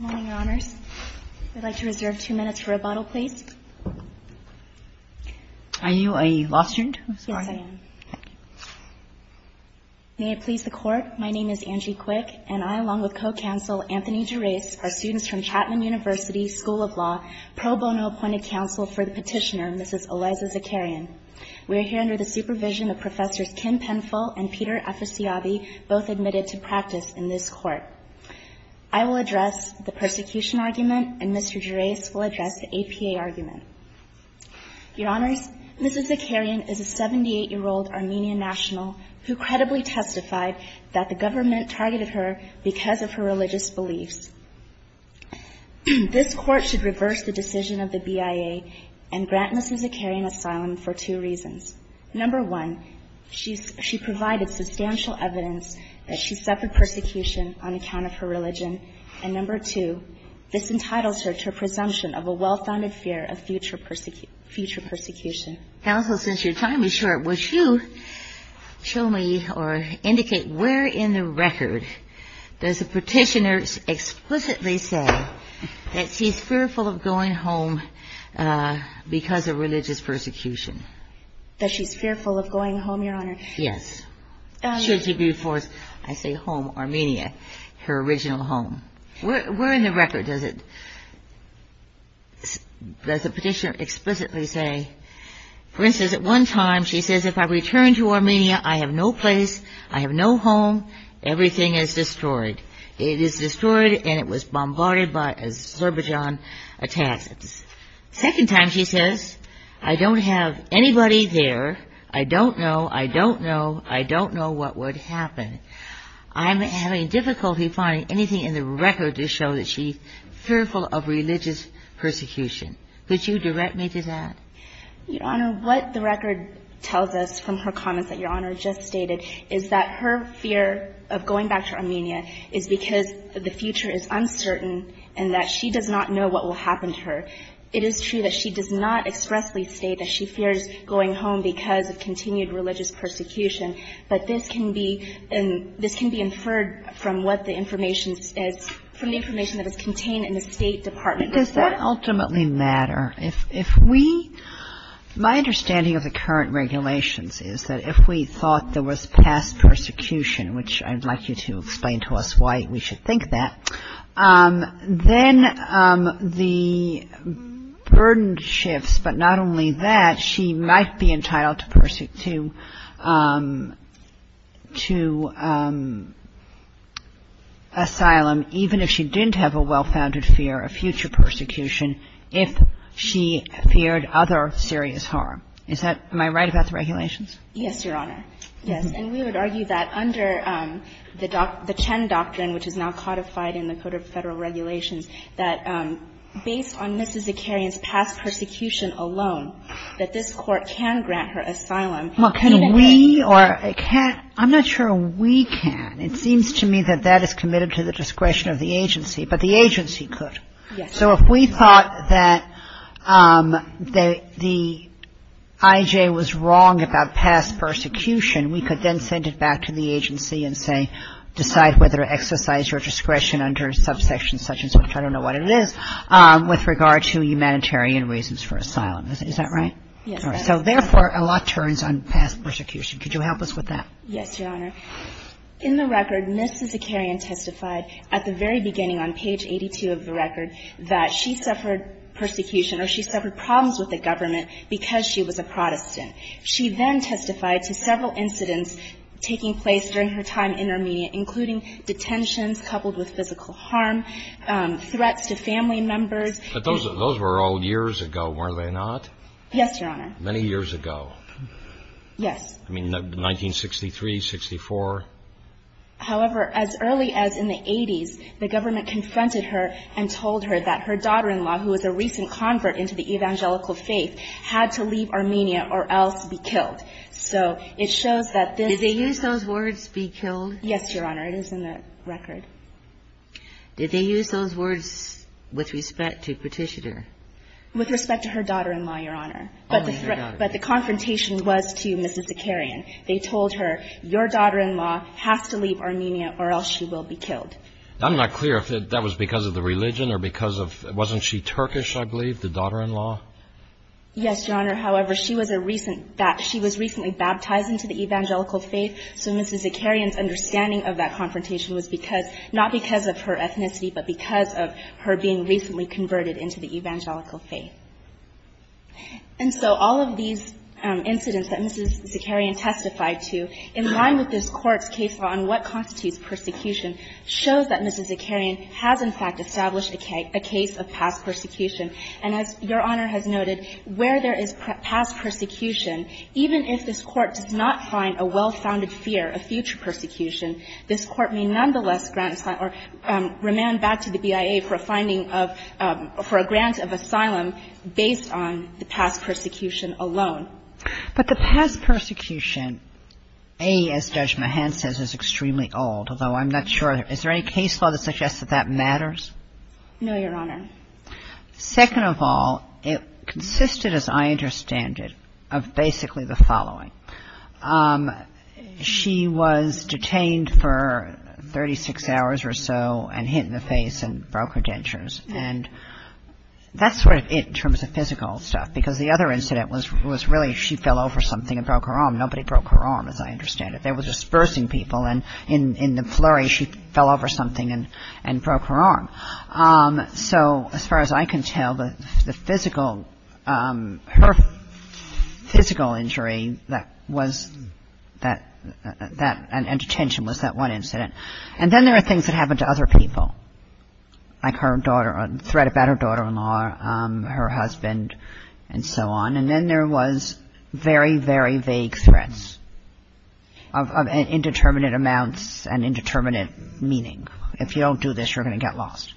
Good morning, Your Honors. I'd like to reserve two minutes for rebuttal, please. Are you a law student? I'm sorry. Yes, I am. May it please the Court, my name is Angie Quick, and I, along with co-counsel Anthony Gerase, are students from Chapman University School of Law, pro bono appointed counsel for the petitioner, Mrs. Eliza Zakarian. We are here under the supervision of Professors Kim Penfill and Peter Aficiabi, both admitted to practice in this court. I will address the persecution argument, and Mr. Gerase will address the APA argument. Your Honors, Mrs. Zakarian is a 78-year-old Armenian national who credibly testified that the government targeted her because of her religious beliefs. This court should reverse the decision of the BIA and grant Mrs. Zakarian asylum for two reasons. Number one, she provided substantial evidence that she suffered persecution on account of her religion. And number two, this entitles her to a presumption of a well-founded fear of future persecution. Counsel, since your time is short, would you show me or indicate where in the record does the petitioner explicitly say that she's fearful of going home because of religious persecution? That she's fearful of going home, Your Honor? Yes. Should she be forced, I say, home, Armenia, her original home. Where in the record does the petitioner explicitly say? For instance, at one time, she says, if I return to Armenia, I have no place. I have no home. Everything is destroyed. It is destroyed, and it was bombarded by Azerbaijan attacks. Second time, she says, I don't have anybody there. I don't know. I don't know. I don't know what would happen. I'm having difficulty finding anything in the record to show that she's fearful of religious persecution. Could you direct me to that? Your Honor, what the record tells us from her comments that Your Honor just stated is that her fear of going back to Armenia is because the future is uncertain and that she does not know what will happen to her. It is true that she does not expressly state that she fears going home because of continued religious persecution, but this can be inferred from the information that is contained in the State Department. Does that ultimately matter? My understanding of the current regulations is that if we thought there was past persecution, which I'd like you to explain to us why we should think that, then the burden shifts. But not only that, she might be entitled to asylum even if she didn't have a well-founded fear of future persecution if she feared other serious harm. Is that my right about the regulations? Yes, Your Honor. Yes. And we would argue that under the Chen doctrine, which is now codified in the Code of Federal Regulations, that based on Mrs. Zakarian's past persecution alone, that this Court can grant her asylum even if she fears Well, can we or can't? I'm not sure we can. It seems to me that that is committed to the discretion of the agency, but the agency could. Yes. So if we thought that the IJ was wrong about past persecution, we could then send it back to the agency and say decide whether to exercise your discretion under subsection such and such, which I don't know what it is, with regard to humanitarian reasons for asylum. Is that right? Yes. So therefore, a lot turns on past persecution. Could you help us with that? Yes, Your Honor. In the record, Mrs. Zakarian testified at the very beginning on page 82 of the record that she suffered persecution or she suffered problems with the government because she was a Protestant. She then testified to several incidents taking place during her time in Armenia, including detentions coupled with physical harm, threats to family members. But those were all years ago, were they not? Yes, Your Honor. Many years ago? Yes. I mean, 1963, 64? However, as early as in the 80s, the government confronted her and told her that her daughter-in-law, who was a recent convert into the evangelical faith, had to leave Armenia or else be killed. So it shows that this Did they use those words, be killed? Yes, Your Honor. It is in the record. Did they use those words with respect to Petitioner? With respect to her daughter-in-law, Your Honor. But the confrontation was to Mrs. Zakarian. They told her, your daughter-in-law has to leave Armenia or else she will be killed. I'm not clear if that was because of the religion or because of, wasn't she Turkish, I believe, the daughter-in-law? Yes, Your Honor. However, she was a recent, she was recently baptized into the evangelical faith. So Mrs. Zakarian's understanding of that confrontation was because, not because of her ethnicity, but because of her being recently converted into the evangelical faith. And so all of these incidents that Mrs. Zakarian testified to, in line with this Court's case law on what constitutes persecution, shows that Mrs. Zakarian has, in fact, established a case of past persecution. And as Your Honor has noted, where there is past persecution, even if this Court does not find a well-founded fear of future persecution, this Court may nonetheless grant or remand back to the BIA for a finding of, for a grant of asylum based on the past persecution alone. But the past persecution, A, as Judge Mahan says, is extremely old, although I'm not sure. Is there any case law that suggests that that matters? No, Your Honor. Second of all, it consisted, as I understand it, of basically the following. She was detained for 36 hours or so, and hit in the face, and broke her dentures. And that's sort of it, in terms of physical stuff, because the other incident was really, she fell over something and broke her arm. Nobody broke her arm, as I understand it. There was dispersing people, and in the flurry, she fell over something and broke her arm. So as far as I can tell, the physical, physical injury that was that, and detention was that one incident. And then there are things that happen to other people, like her daughter, a threat about her daughter-in-law, her husband, and so on. And then there was very, very vague threats of indeterminate amounts and indeterminate meaning. If you don't do this, you're going to get lost.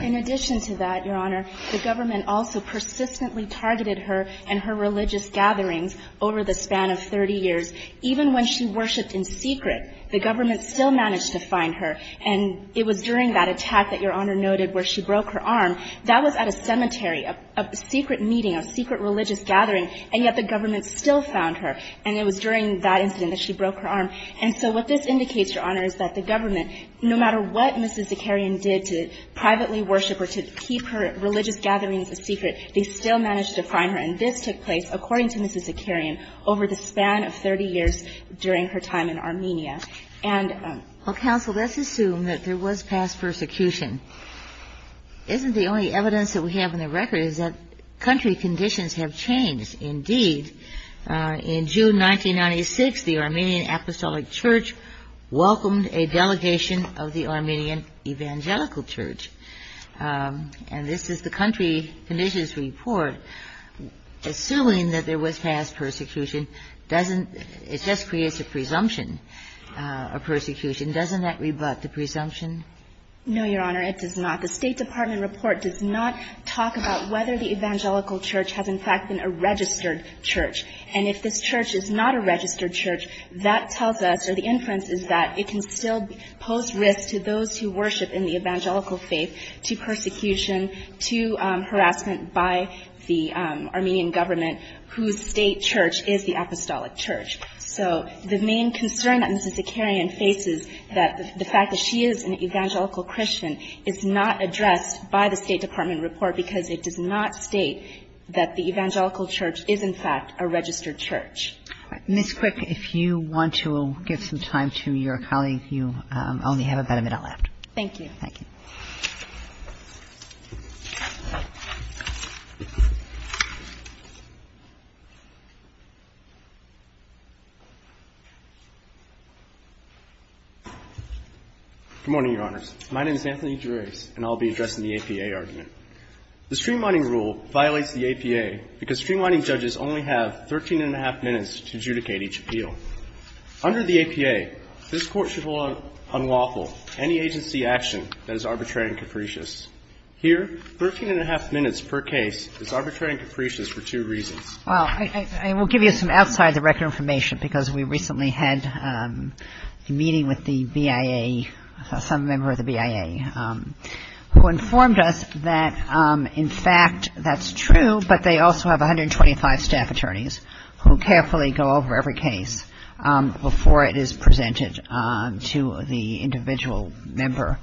In addition to that, Your Honor, the government also persistently targeted her and her religious gatherings over the span of 30 years. Even when she worshiped in secret, the government still managed to find her. And it was during that attack that Your Honor noted where she broke her arm. That was at a cemetery, a secret meeting, a secret religious gathering, and yet the government still found her. And it was during that incident that she broke her arm. And so what this indicates, Your Honor, is that the government, no matter what Mrs. Zakarian did to privately worship or to keep her religious gatherings a secret, they still managed to find her. And this took place, according to Mrs. Zakarian, over the span of 30 years during her time in Armenia. And- Well, counsel, let's assume that there was past persecution. Isn't the only evidence that we have in the record is that country conditions have changed? Indeed, in June 1996, the Armenian Apostolic Church welcomed a delegation of the Armenian Evangelical Church. And this is the country conditions report. Assuming that there was past persecution, doesn't, it just creates a presumption of persecution. Doesn't that rebut the presumption? No, Your Honor, it does not. The State Department report does not talk about whether the Evangelical Church has in fact been a registered church. And if this church is not a registered church, that tells us, or the inference is that it can still pose risk to those who worship in the Evangelical faith to persecution, to harassment by the Armenian government whose state church is the Apostolic Church. So the main concern that Mrs. Zakarian faces that the fact that she is an evangelical Christian is not addressed by the State Department report because it does not state that the Evangelical Church is in fact a registered church. Ms. Quick, if you want to give some time to your colleague, you only have about a minute left. Thank you. Thank you. Thank you. Good morning, Your Honors. My name is Anthony Gerace, and I'll be addressing the APA argument. The streamlining rule violates the APA because streamlining judges only have 13 and a half minutes to adjudicate each appeal. Under the APA, this court should hold unlawful any agency action that is arbitrary and capricious. Here, 13 and a half minutes per case is arbitrary and capricious for two reasons. Well, I will give you some outside the record information because we recently had a meeting with the BIA, some member of the BIA, who informed us that in fact that's true, but they also have 125 staff attorneys who carefully go over every case before it is presented to the individual member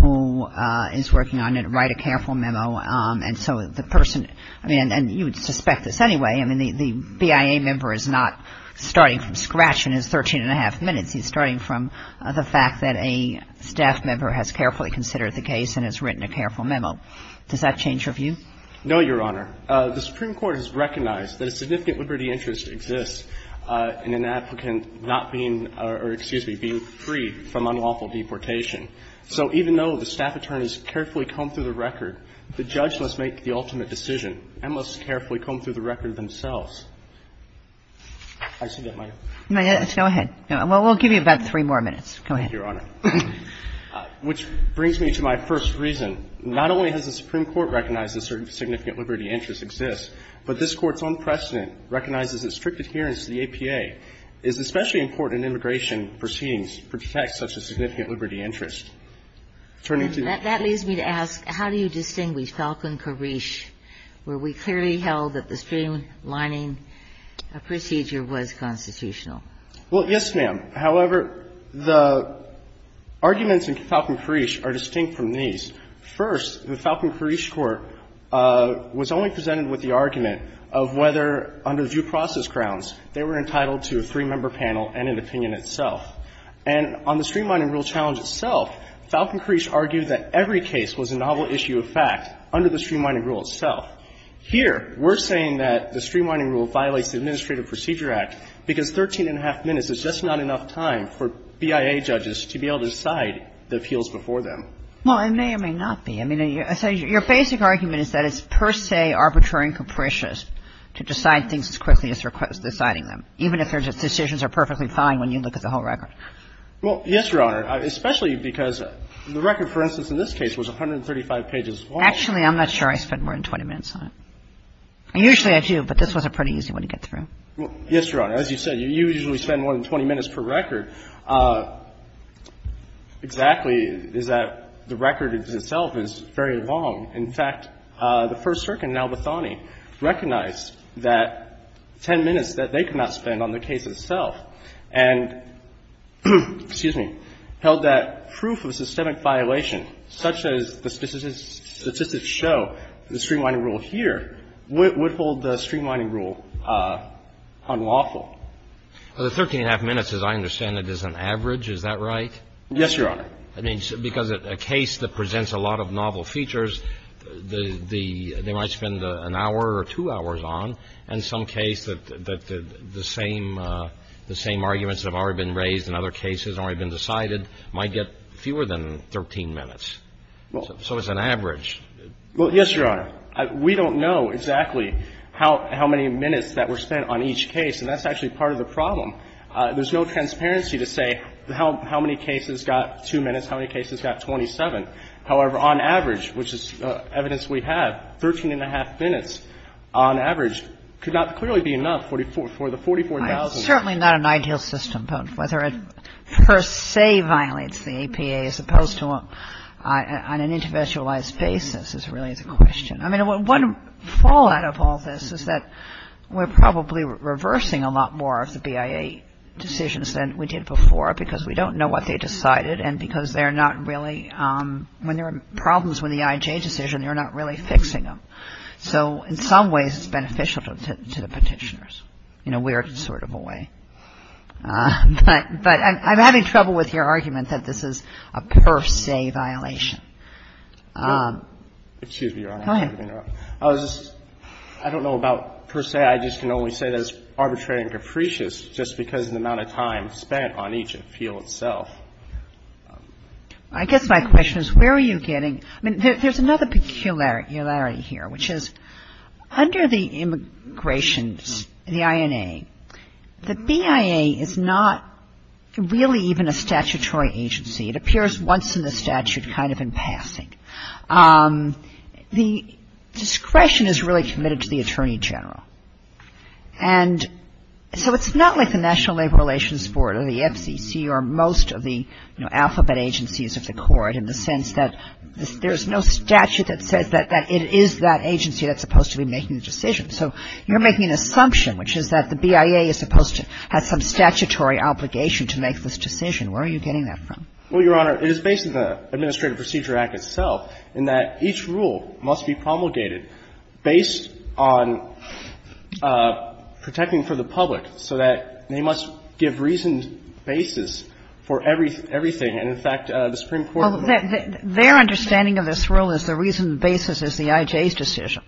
who is working on it, write a careful memo. And so the person, I mean, and you would suspect this anyway, I mean, the BIA member is not starting from scratch in his 13 and a half minutes. He's starting from the fact that a staff member has carefully considered the case and has written a careful memo. Does that change your view? No, Your Honor. The Supreme Court has recognized that a significant liberty interest exists in an applicant not being, or excuse me, being free from unlawful deportation. So even though the staff attorneys carefully comb through the record, the judge must make the ultimate decision and must carefully comb through the record themselves. I see that, might I? Yes, go ahead. Well, we'll give you about three more minutes. Go ahead. Thank you, Your Honor. Which brings me to my first reason. Not only has the Supreme Court recognized a certain significant liberty interest exists, but this Court's own precedent recognizes that strict adherence to the APA is especially important in immigration proceedings for detects such a significant liberty interest. Turning to the case. That leads me to ask, how do you distinguish Falcon-Karish, where we clearly held that the streamlining procedure was constitutional? Well, yes, ma'am. However, the arguments in Falcon-Karish are distinct from these. First, the Falcon-Karish court was only presented with the argument of whether, under due process grounds, they were entitled to a three-member panel and an opinion itself. And on the streamlining rule challenge itself, Falcon-Karish argued that every case was a novel issue of fact under the streamlining rule itself. Here, we're saying that the streamlining rule violates the Administrative Procedure Act because 13 and a half minutes is just not enough time for BIA judges to be able to decide the appeals before them. Well, it may or may not be. I mean, your basic argument is that it's per se arbitrary and capricious to decide things as quickly as you're deciding them, even if the decisions are perfectly fine when you look at the whole record. Well, yes, Your Honor, especially because the record, for instance, in this case was 135 pages long. Actually, I'm not sure I spent more than 20 minutes on it. Usually I do, but this was a pretty easy one to get through. Yes, Your Honor. As you said, you usually spend more than 20 minutes per record. Exactly is that the record itself is very long. In fact, the First Circuit in Al-Bathani recognized that 10 minutes that they could not spend on the case itself and held that proof of systemic violation, such as the statistics show, the streamlining rule here, would hold the streamlining rule unlawful. Well, the 13 and a half minutes, as I understand it, is an average. Is that right? Yes, Your Honor. I mean, because a case that presents a lot of novel features, they might spend an hour or two hours on, and some case that the same arguments that have already been raised in other cases, already been decided, might get fewer than 13 minutes. So it's an average. Well, yes, Your Honor. We don't know exactly how many minutes that were spent on each case, and that's actually part of the problem. There's no transparency to say how many cases got 2 minutes, how many cases got 27. However, on average, which is evidence we have, 13 and a half minutes on average could not clearly be enough for the 44,000. It's certainly not an ideal system, but whether it per se violates the APA as opposed to on an individualized basis is really the question. I mean, one fallout of all this is that we're probably reversing a lot more of the IA decisions than we did before because we don't know what they decided and because they're not really – when there are problems with the IJ decision, they're not really fixing them, so in some ways it's beneficial to the Petitioners in a weird sort of a way. But I'm having trouble with your argument that this is a per se violation. Excuse me, Your Honor. Go ahead. I was just – I don't know about per se. I just can only say that it's arbitrary and capricious just because of the amount of time spent on each appeal itself. I guess my question is where are you getting – I mean, there's another peculiarity here, which is under the immigration, the INA, the BIA is not really even a statutory agency. It appears once in the statute kind of in passing. The discretion is really committed to the Attorney General. And so it's not like the National Labor Relations Board or the FCC or most of the alphabet agencies of the Court in the sense that there's no statute that says that it is that agency that's supposed to be making the decision. So you're making an assumption, which is that the BIA is supposed to have some statutory obligation to make this decision. Where are you getting that from? Well, Your Honor, it is based on the Administrative Procedure Act itself in that each rule must be promulgated based on protecting for the public so that they must give reasoned basis for everything. And, in fact, the Supreme Court of America… Well, their understanding of this rule is the reasoned basis is the IJ's decision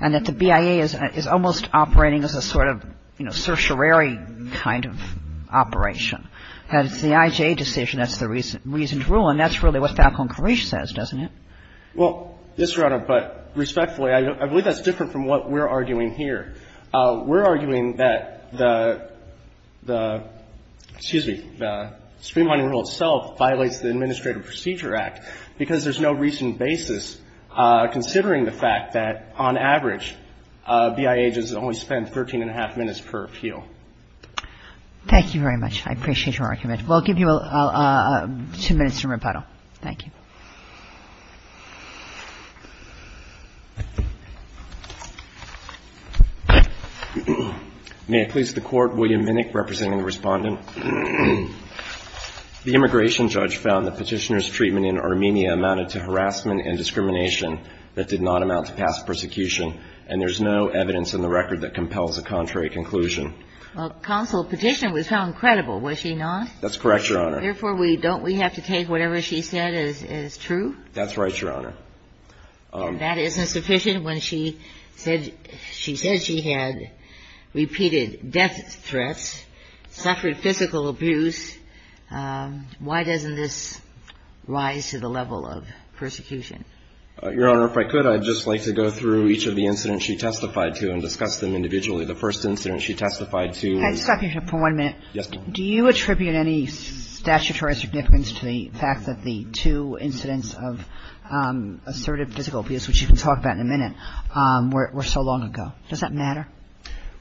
and that the BIA is almost operating as a sort of, you know, certiorari kind of operation. And it's the IJ decision that's the reasoned rule. And that's really what Falcón-Carrillo says, doesn't it? Well, yes, Your Honor, but respectfully, I believe that's different from what we're arguing here. We're arguing that the — excuse me, the Supreme Court rule itself violates the Administrative Procedure Act because there's no reasoned basis, considering the fact that, on average, BIA agents only spend 13 and a half minutes per appeal. Thank you very much. I appreciate your argument. We'll give you two minutes to rebuttal. Thank you. May it please the Court, William Vinnick, representing the Respondent. The immigration judge found that Petitioner's treatment in Armenia amounted to harassment and discrimination that did not amount to past persecution, and there's no evidence in the record that compels a contrary conclusion. Well, Counsel, Petitioner was found credible, was she not? That's correct, Your Honor. Therefore, we — don't we have to take whatever she said as true? That's right, Your Honor. And that isn't sufficient when she said — she said she had repeated death threats, suffered physical abuse. Why doesn't this rise to the level of persecution? Your Honor, if I could, I'd just like to go through each of the incidents she testified to and discuss them individually. The first incident she testified to — I'd stop you here for one minute. Yes, ma'am. Do you attribute any statutory significance to the fact that the two incidents of assertive physical abuse, which you can talk about in a minute, were so long ago? Does that matter?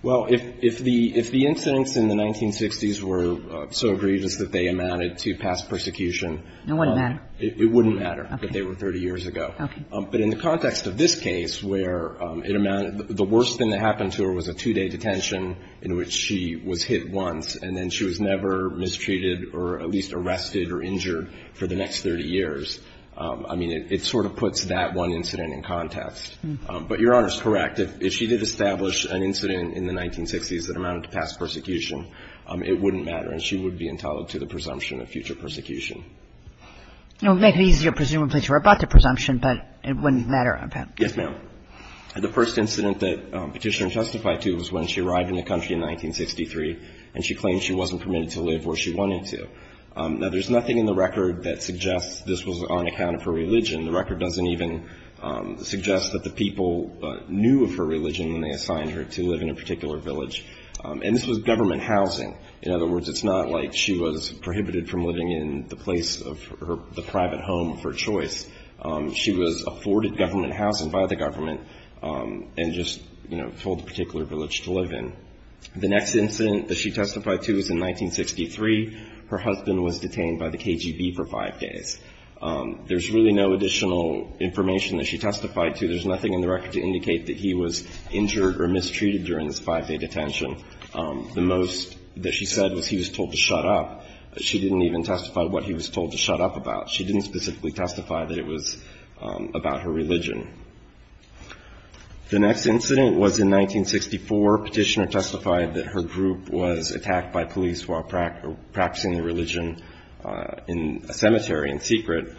Well, if the — if the incidents in the 1960s were so egregious that they amounted to past persecution — It wouldn't matter. It wouldn't matter if they were 30 years ago. Okay. But in the context of this case, where it amounted — the worst thing that happened to her was a two-day detention in which she was hit once and then she was never mistreated or at least arrested or injured for the next 30 years, I mean, it sort of puts that one incident in context. But Your Honor's correct. If she did establish an incident in the 1960s that amounted to past persecution, it wouldn't matter, and she would be entitled to the presumption of future persecution. It would make it easier, presumably, to rebut the presumption, but it wouldn't matter. Yes, ma'am. The first incident that Petitioner testified to was when she arrived in the country in 1963 and she claimed she wasn't permitted to live where she wanted to. Now, there's nothing in the record that suggests this was on account of her religion. The record doesn't even suggest that the people knew of her religion when they assigned her to live in a particular village. And this was government housing. In other words, it's not like she was prohibited from living in the place of her — the private home of her choice. She was afforded government housing by the government and just, you know, told the particular village to live in. The next incident that she testified to was in 1963. Her husband was detained by the KGB for five days. There's really no additional information that she testified to. There's nothing in the record to indicate that he was injured or mistreated during this five-day detention. The most that she said was he was told to shut up. She didn't even testify what he was told to shut up about. She didn't specifically testify that it was about her religion. The next incident was in 1964. Petitioner testified that her group was attacked by police while practicing their religion in a cemetery in secret.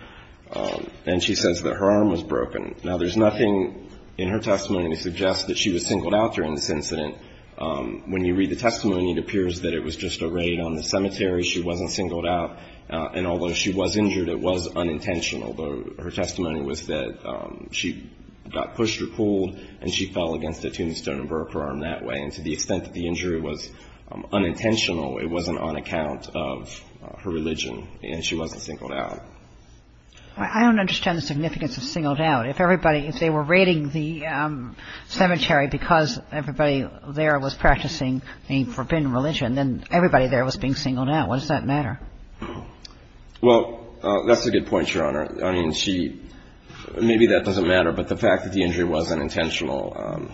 And she says that her arm was broken. Now, there's nothing in her testimony to suggest that she was singled out during this incident. When you read the testimony, it appears that it was just a raid on the cemetery. She wasn't singled out. And although she was injured, it was unintentional. Her testimony was that she got pushed or pulled, and she fell against a tombstone and broke her arm that way. And to the extent that the injury was unintentional, it wasn't on account of her religion. And she wasn't singled out. I don't understand the significance of singled out. If everybody – if they were raiding the cemetery because everybody there was practicing a forbidden religion, then everybody there was being singled out. Why does that matter? Well, that's a good point, Your Honor. I mean, she – maybe that doesn't matter, but the fact that the injury wasn't intentional,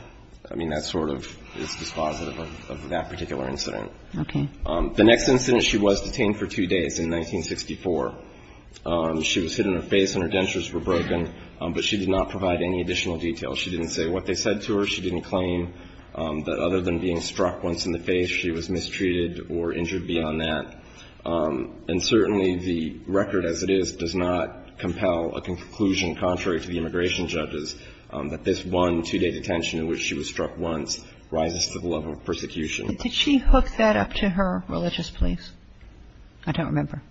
I mean, that sort of is dispositive of that particular incident. Okay. The next incident, she was detained for two days in 1964. She was hit in her face and her dentures were broken, but she did not provide any additional detail. She didn't say what they said to her. She didn't claim that other than being struck once in the face, she was mistreated or injured beyond that. And certainly the record as it is does not compel a conclusion contrary to the immigration judges that this one two-day detention in which she was struck once rises to the level of persecution. Did she hook that up to her religious beliefs? I don't remember.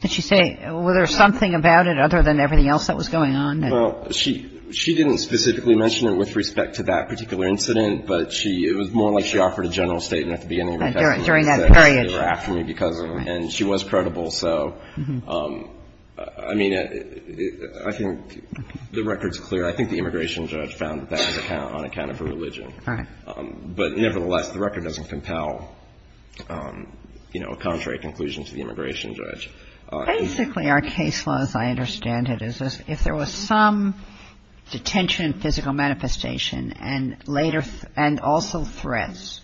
Did she say – was there something about it other than everything else that was going on? Well, she – she didn't specifically mention it with respect to that particular incident, but she – it was more like she offered a general statement at the beginning of the testimony. During that period. During that period. And she was credible, so, I mean, I think the record's clear. I think the immigration judge found that on account of her religion. Right. But nevertheless, the record doesn't compel, you know, a contrary conclusion to the immigration judge. Basically, our case law, as I understand it, is if there was some detention and physical manifestation and later – and also threats,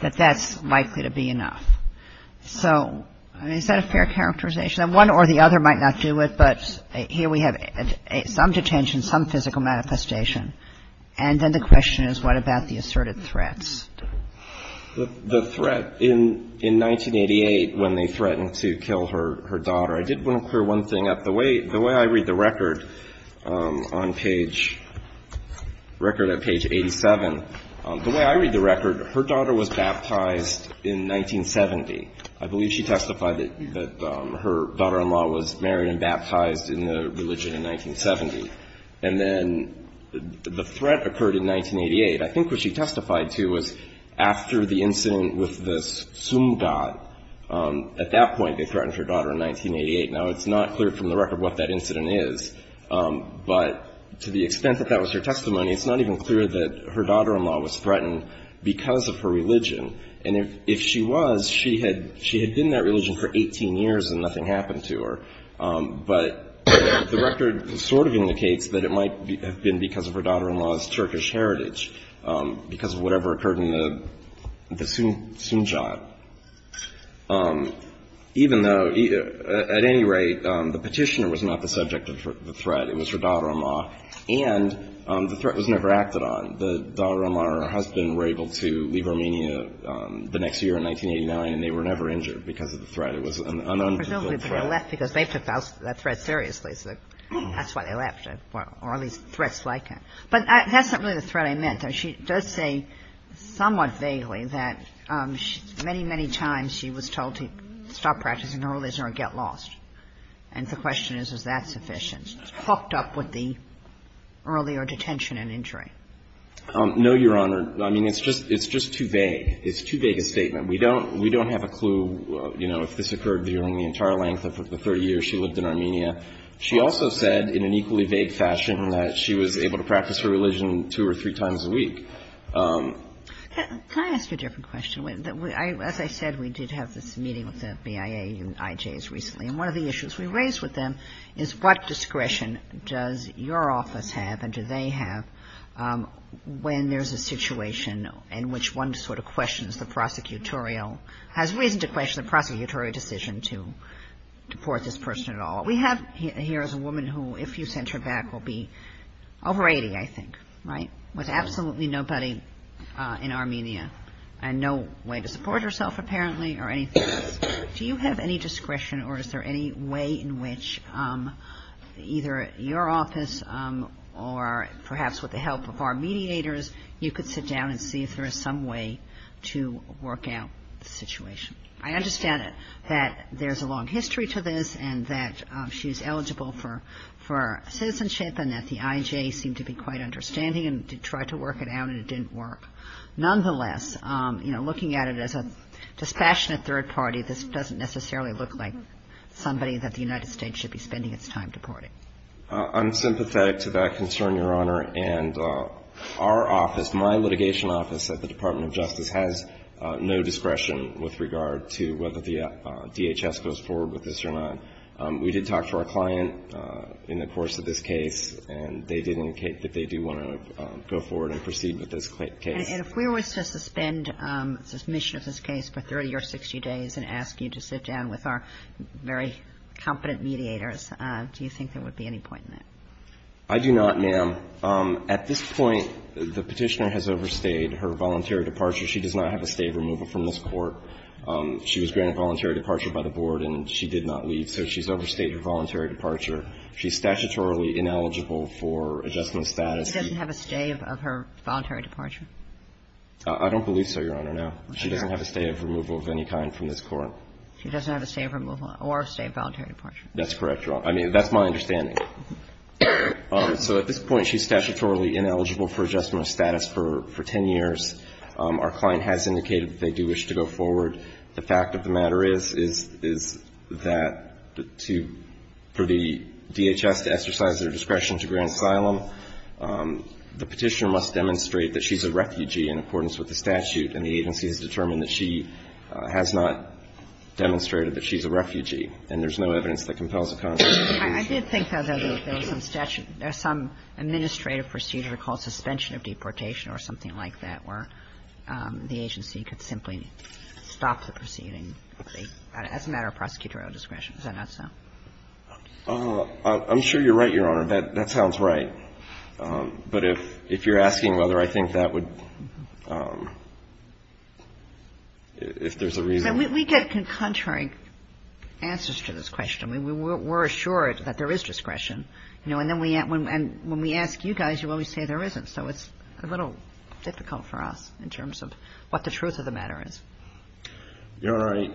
that that's likely to be enough. So, I mean, is that a fair characterization? And one or the other might not do it, but here we have some detention, some physical manifestation. And then the question is, what about the asserted threats? The threat in – in 1988 when they threatened to kill her daughter, I did want to clear one thing up. The way – the way I read the record on page – record at page 87, the way I read the record, her daughter was baptized in 1970. I believe she testified that her daughter-in-law was married and baptized in the religion in 1970. And then the threat occurred in 1988. I think what she testified to was after the incident with the sumdat, at that point, they threatened her daughter in 1988. Now, it's not clear from the record what that incident is, but to the extent that that was her testimony, it's not even clear that her daughter-in-law was threatened because of her religion. And if – if she was, she had – she had been in that religion for 18 years and nothing happened to her. But the record sort of indicates that it might have been because of her daughter-in-law's Turkish heritage, because of whatever occurred in the sumdat. Even though – at any rate, the petitioner was not the subject of the threat. It was her daughter-in-law. And the threat was never acted on. The daughter-in-law and her husband were able to leave Armenia the next year in 1989, and they were never injured because of the threat. It was an un-unbefittable threat. MS. NIEUSMANN-FERSTENBERG I don't think they left because they took that threat seriously. So that's why they left it, or at least threats like it. But that's not really the threat I meant. MS. NIEUSMANN-FERSTENBERG I'm not sure if that's the right way to put it, but I'm not sure if that's the right way to put it. I mean, I think the question is, is that sufficient? I mean, she does say somewhat vaguely that many, many times she was told to stop practicing her religion or get lost. And the question is, is that sufficient? It's hooked up with the earlier detention and injury. MR. SHERIFF No, Your Honor. I mean, it's just – it's just too vague. It's too vague a statement. We don't – we don't have a clue, you know, if this occurred during the entire length of the 30 years she lived in Armenia. She also said in an equally vague fashion that she was able to practice her religion two or three times a week. MS. NIEUSMANN-FERSTENBERG Can I ask a different question? As I said, we did have this meeting with the BIA and IJs recently, and one of the issues we raised with them is what discretion does your office have and do they have when there's a situation in which one sort of questions the prosecutorial – has reason to question the prosecutorial decision to deport this person at all? We have here is a woman who, if you sent her back, will be over 80, I think, right, with absolutely nobody in Armenia and no way to support herself, apparently, or anything else. Do you have any discretion or is there any way in which either your office or perhaps with the help of our mediators you could sit down and see if there is some way to work out the situation? I understand that there's a long history to this and that she's eligible for citizenship and that the IJ seemed to be quite understanding and tried to work it out and it didn't work. Nonetheless, you know, looking at it as a dispassionate third party, this doesn't necessarily look like somebody that the United States should be spending its time deporting. I'm sympathetic to that concern, Your Honor. And our office, my litigation office at the Department of Justice, has no discretion with regard to whether the DHS goes forward with this or not. We did talk to our client in the course of this case, and they did indicate that they do want to go forward and proceed with this case. And if we were to suspend submission of this case for 30 or 60 days and ask you to sit down with our very competent mediators, do you think there would be any point in that? I do not, ma'am. At this point, the Petitioner has overstayed her voluntary departure. She does not have a stave removal from this Court. She was granted voluntary departure by the Board and she did not leave. So she's overstayed her voluntary departure. She's statutorily ineligible for adjustment status. She doesn't have a stave of her voluntary departure? I don't believe so, Your Honor, no. She doesn't have a stave removal of any kind from this Court. She doesn't have a stave removal or a stave voluntary departure. That's correct, Your Honor. I mean, that's my understanding. So at this point, she's statutorily ineligible for adjustment status for 10 years. Our client has indicated that they do wish to go forward. The fact of the matter is, is that to per the DHS to exercise their discretion to grant asylum, the Petitioner must demonstrate that she's a refugee in accordance with the statute. And the agency has determined that she has not demonstrated that she's a refugee. And there's no evidence that compels a consent. I did think, though, that there was some statute or some administrative procedure called suspension of deportation or something like that, where the agency could simply stop the proceeding as a matter of prosecutorial discretion. Is that not so? I'm sure you're right, Your Honor. That sounds right. But if you're asking whether I think that would – if there's a reason. We get contrary answers to this question. We're assured that there is discretion. And when we ask you guys, you always say there isn't. So it's a little difficult for us in terms of what the truth of the matter is. Your Honor,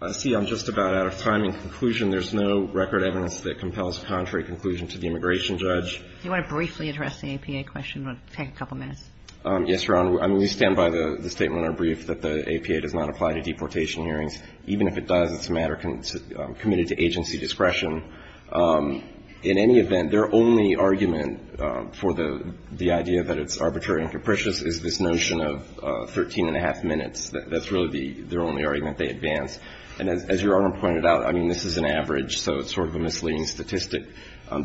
I see I'm just about out of time. I have a quick question. I'm interested in the arguing conclusion. There's no record evidence that compels a contrary conclusion to the immigration judge. Do you want to briefly address the APA question? Take a couple minutes. Yes, Your Honor. We stand by the statement we're briefed that the APA does not apply to deportation hearings. Even if it does, it's a matter committed to agency discretion. In any event, their only argument for the idea that it's arbitrary and capricious is this notion of 13 and a half minutes. That's really their only argument. They advance. And as Your Honor pointed out, I mean, this is an average, so it's sort of a misleading statistic.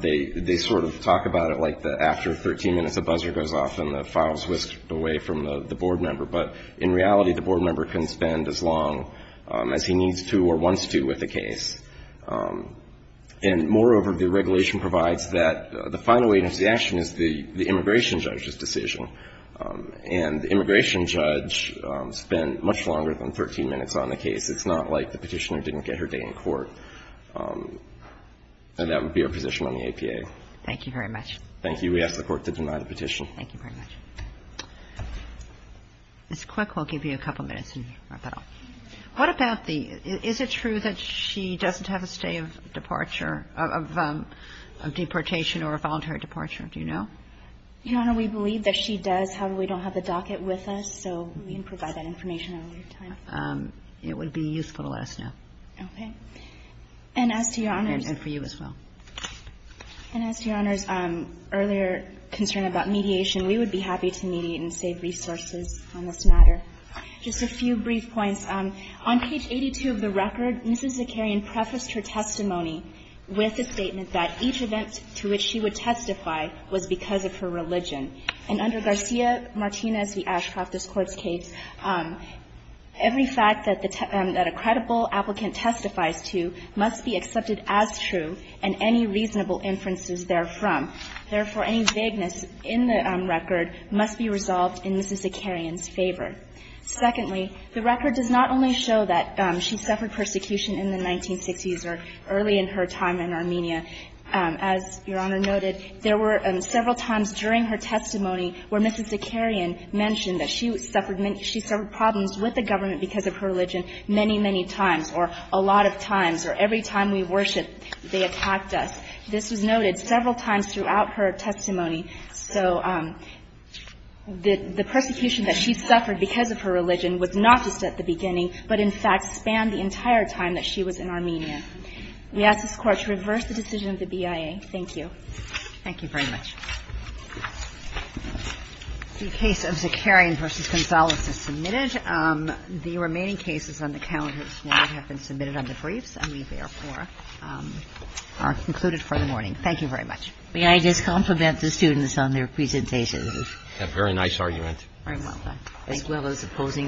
They sort of talk about it like after 13 minutes, a buzzer goes off and the file is whisked away from the board member. But in reality, the board member can spend as long as he needs to or wants to with a case. And moreover, the regulation provides that the final agency action is the immigration judge's decision. And the immigration judge spent much longer than 13 minutes on the case. It's not like the petitioner didn't get her day in court. And that would be our position on the APA. Thank you very much. Thank you. We ask the Court to deny the petition. Thank you very much. Ms. Quick, we'll give you a couple minutes and wrap it up. What about the – is it true that she doesn't have a stay of departure, of deportation or a voluntary departure? Do you know? Your Honor, we believe that she does. However, we don't have the docket with us, so we can provide that information at a later time. It would be useful to let us know. Okay. And as to Your Honor's – And for you as well. And as to Your Honor's earlier concern about mediation, we would be happy to mediate and save resources on this matter. Just a few brief points. On page 82 of the record, Ms. Zakarian prefaced her testimony with a statement that each event to which she would testify was because of her religion. And under Garcia-Martinez v. Ashcroft, this Court's case, every fact that the – that a credible applicant testifies to must be accepted as true and any reasonable inferences therefrom. Therefore, any vagueness in the record must be resolved in Ms. Zakarian's favor. Secondly, the record does not only show that she suffered persecution in the 1960s or early in her time in Armenia. As Your Honor noted, there were several times during her testimony where Mrs. Zakarian mentioned that she suffered many – she suffered problems with the government because of her religion many, many times or a lot of times or every time we worshipped, they attacked us. This was noted several times throughout her testimony. So the persecution that she suffered because of her religion was not just at the beginning, but in fact spanned the entire time that she was in Armenia. We ask this Court to reverse the decision of the BIA. Thank you. Thank you very much. The case of Zakarian v. Gonzales is submitted. The remaining cases on the calendar this morning have been submitted on the briefs and we, therefore, are concluded for the morning. Thank you very much. May I just compliment the students on their presentations? A very nice argument. Very well done. Thank you. As well as opposing counsel.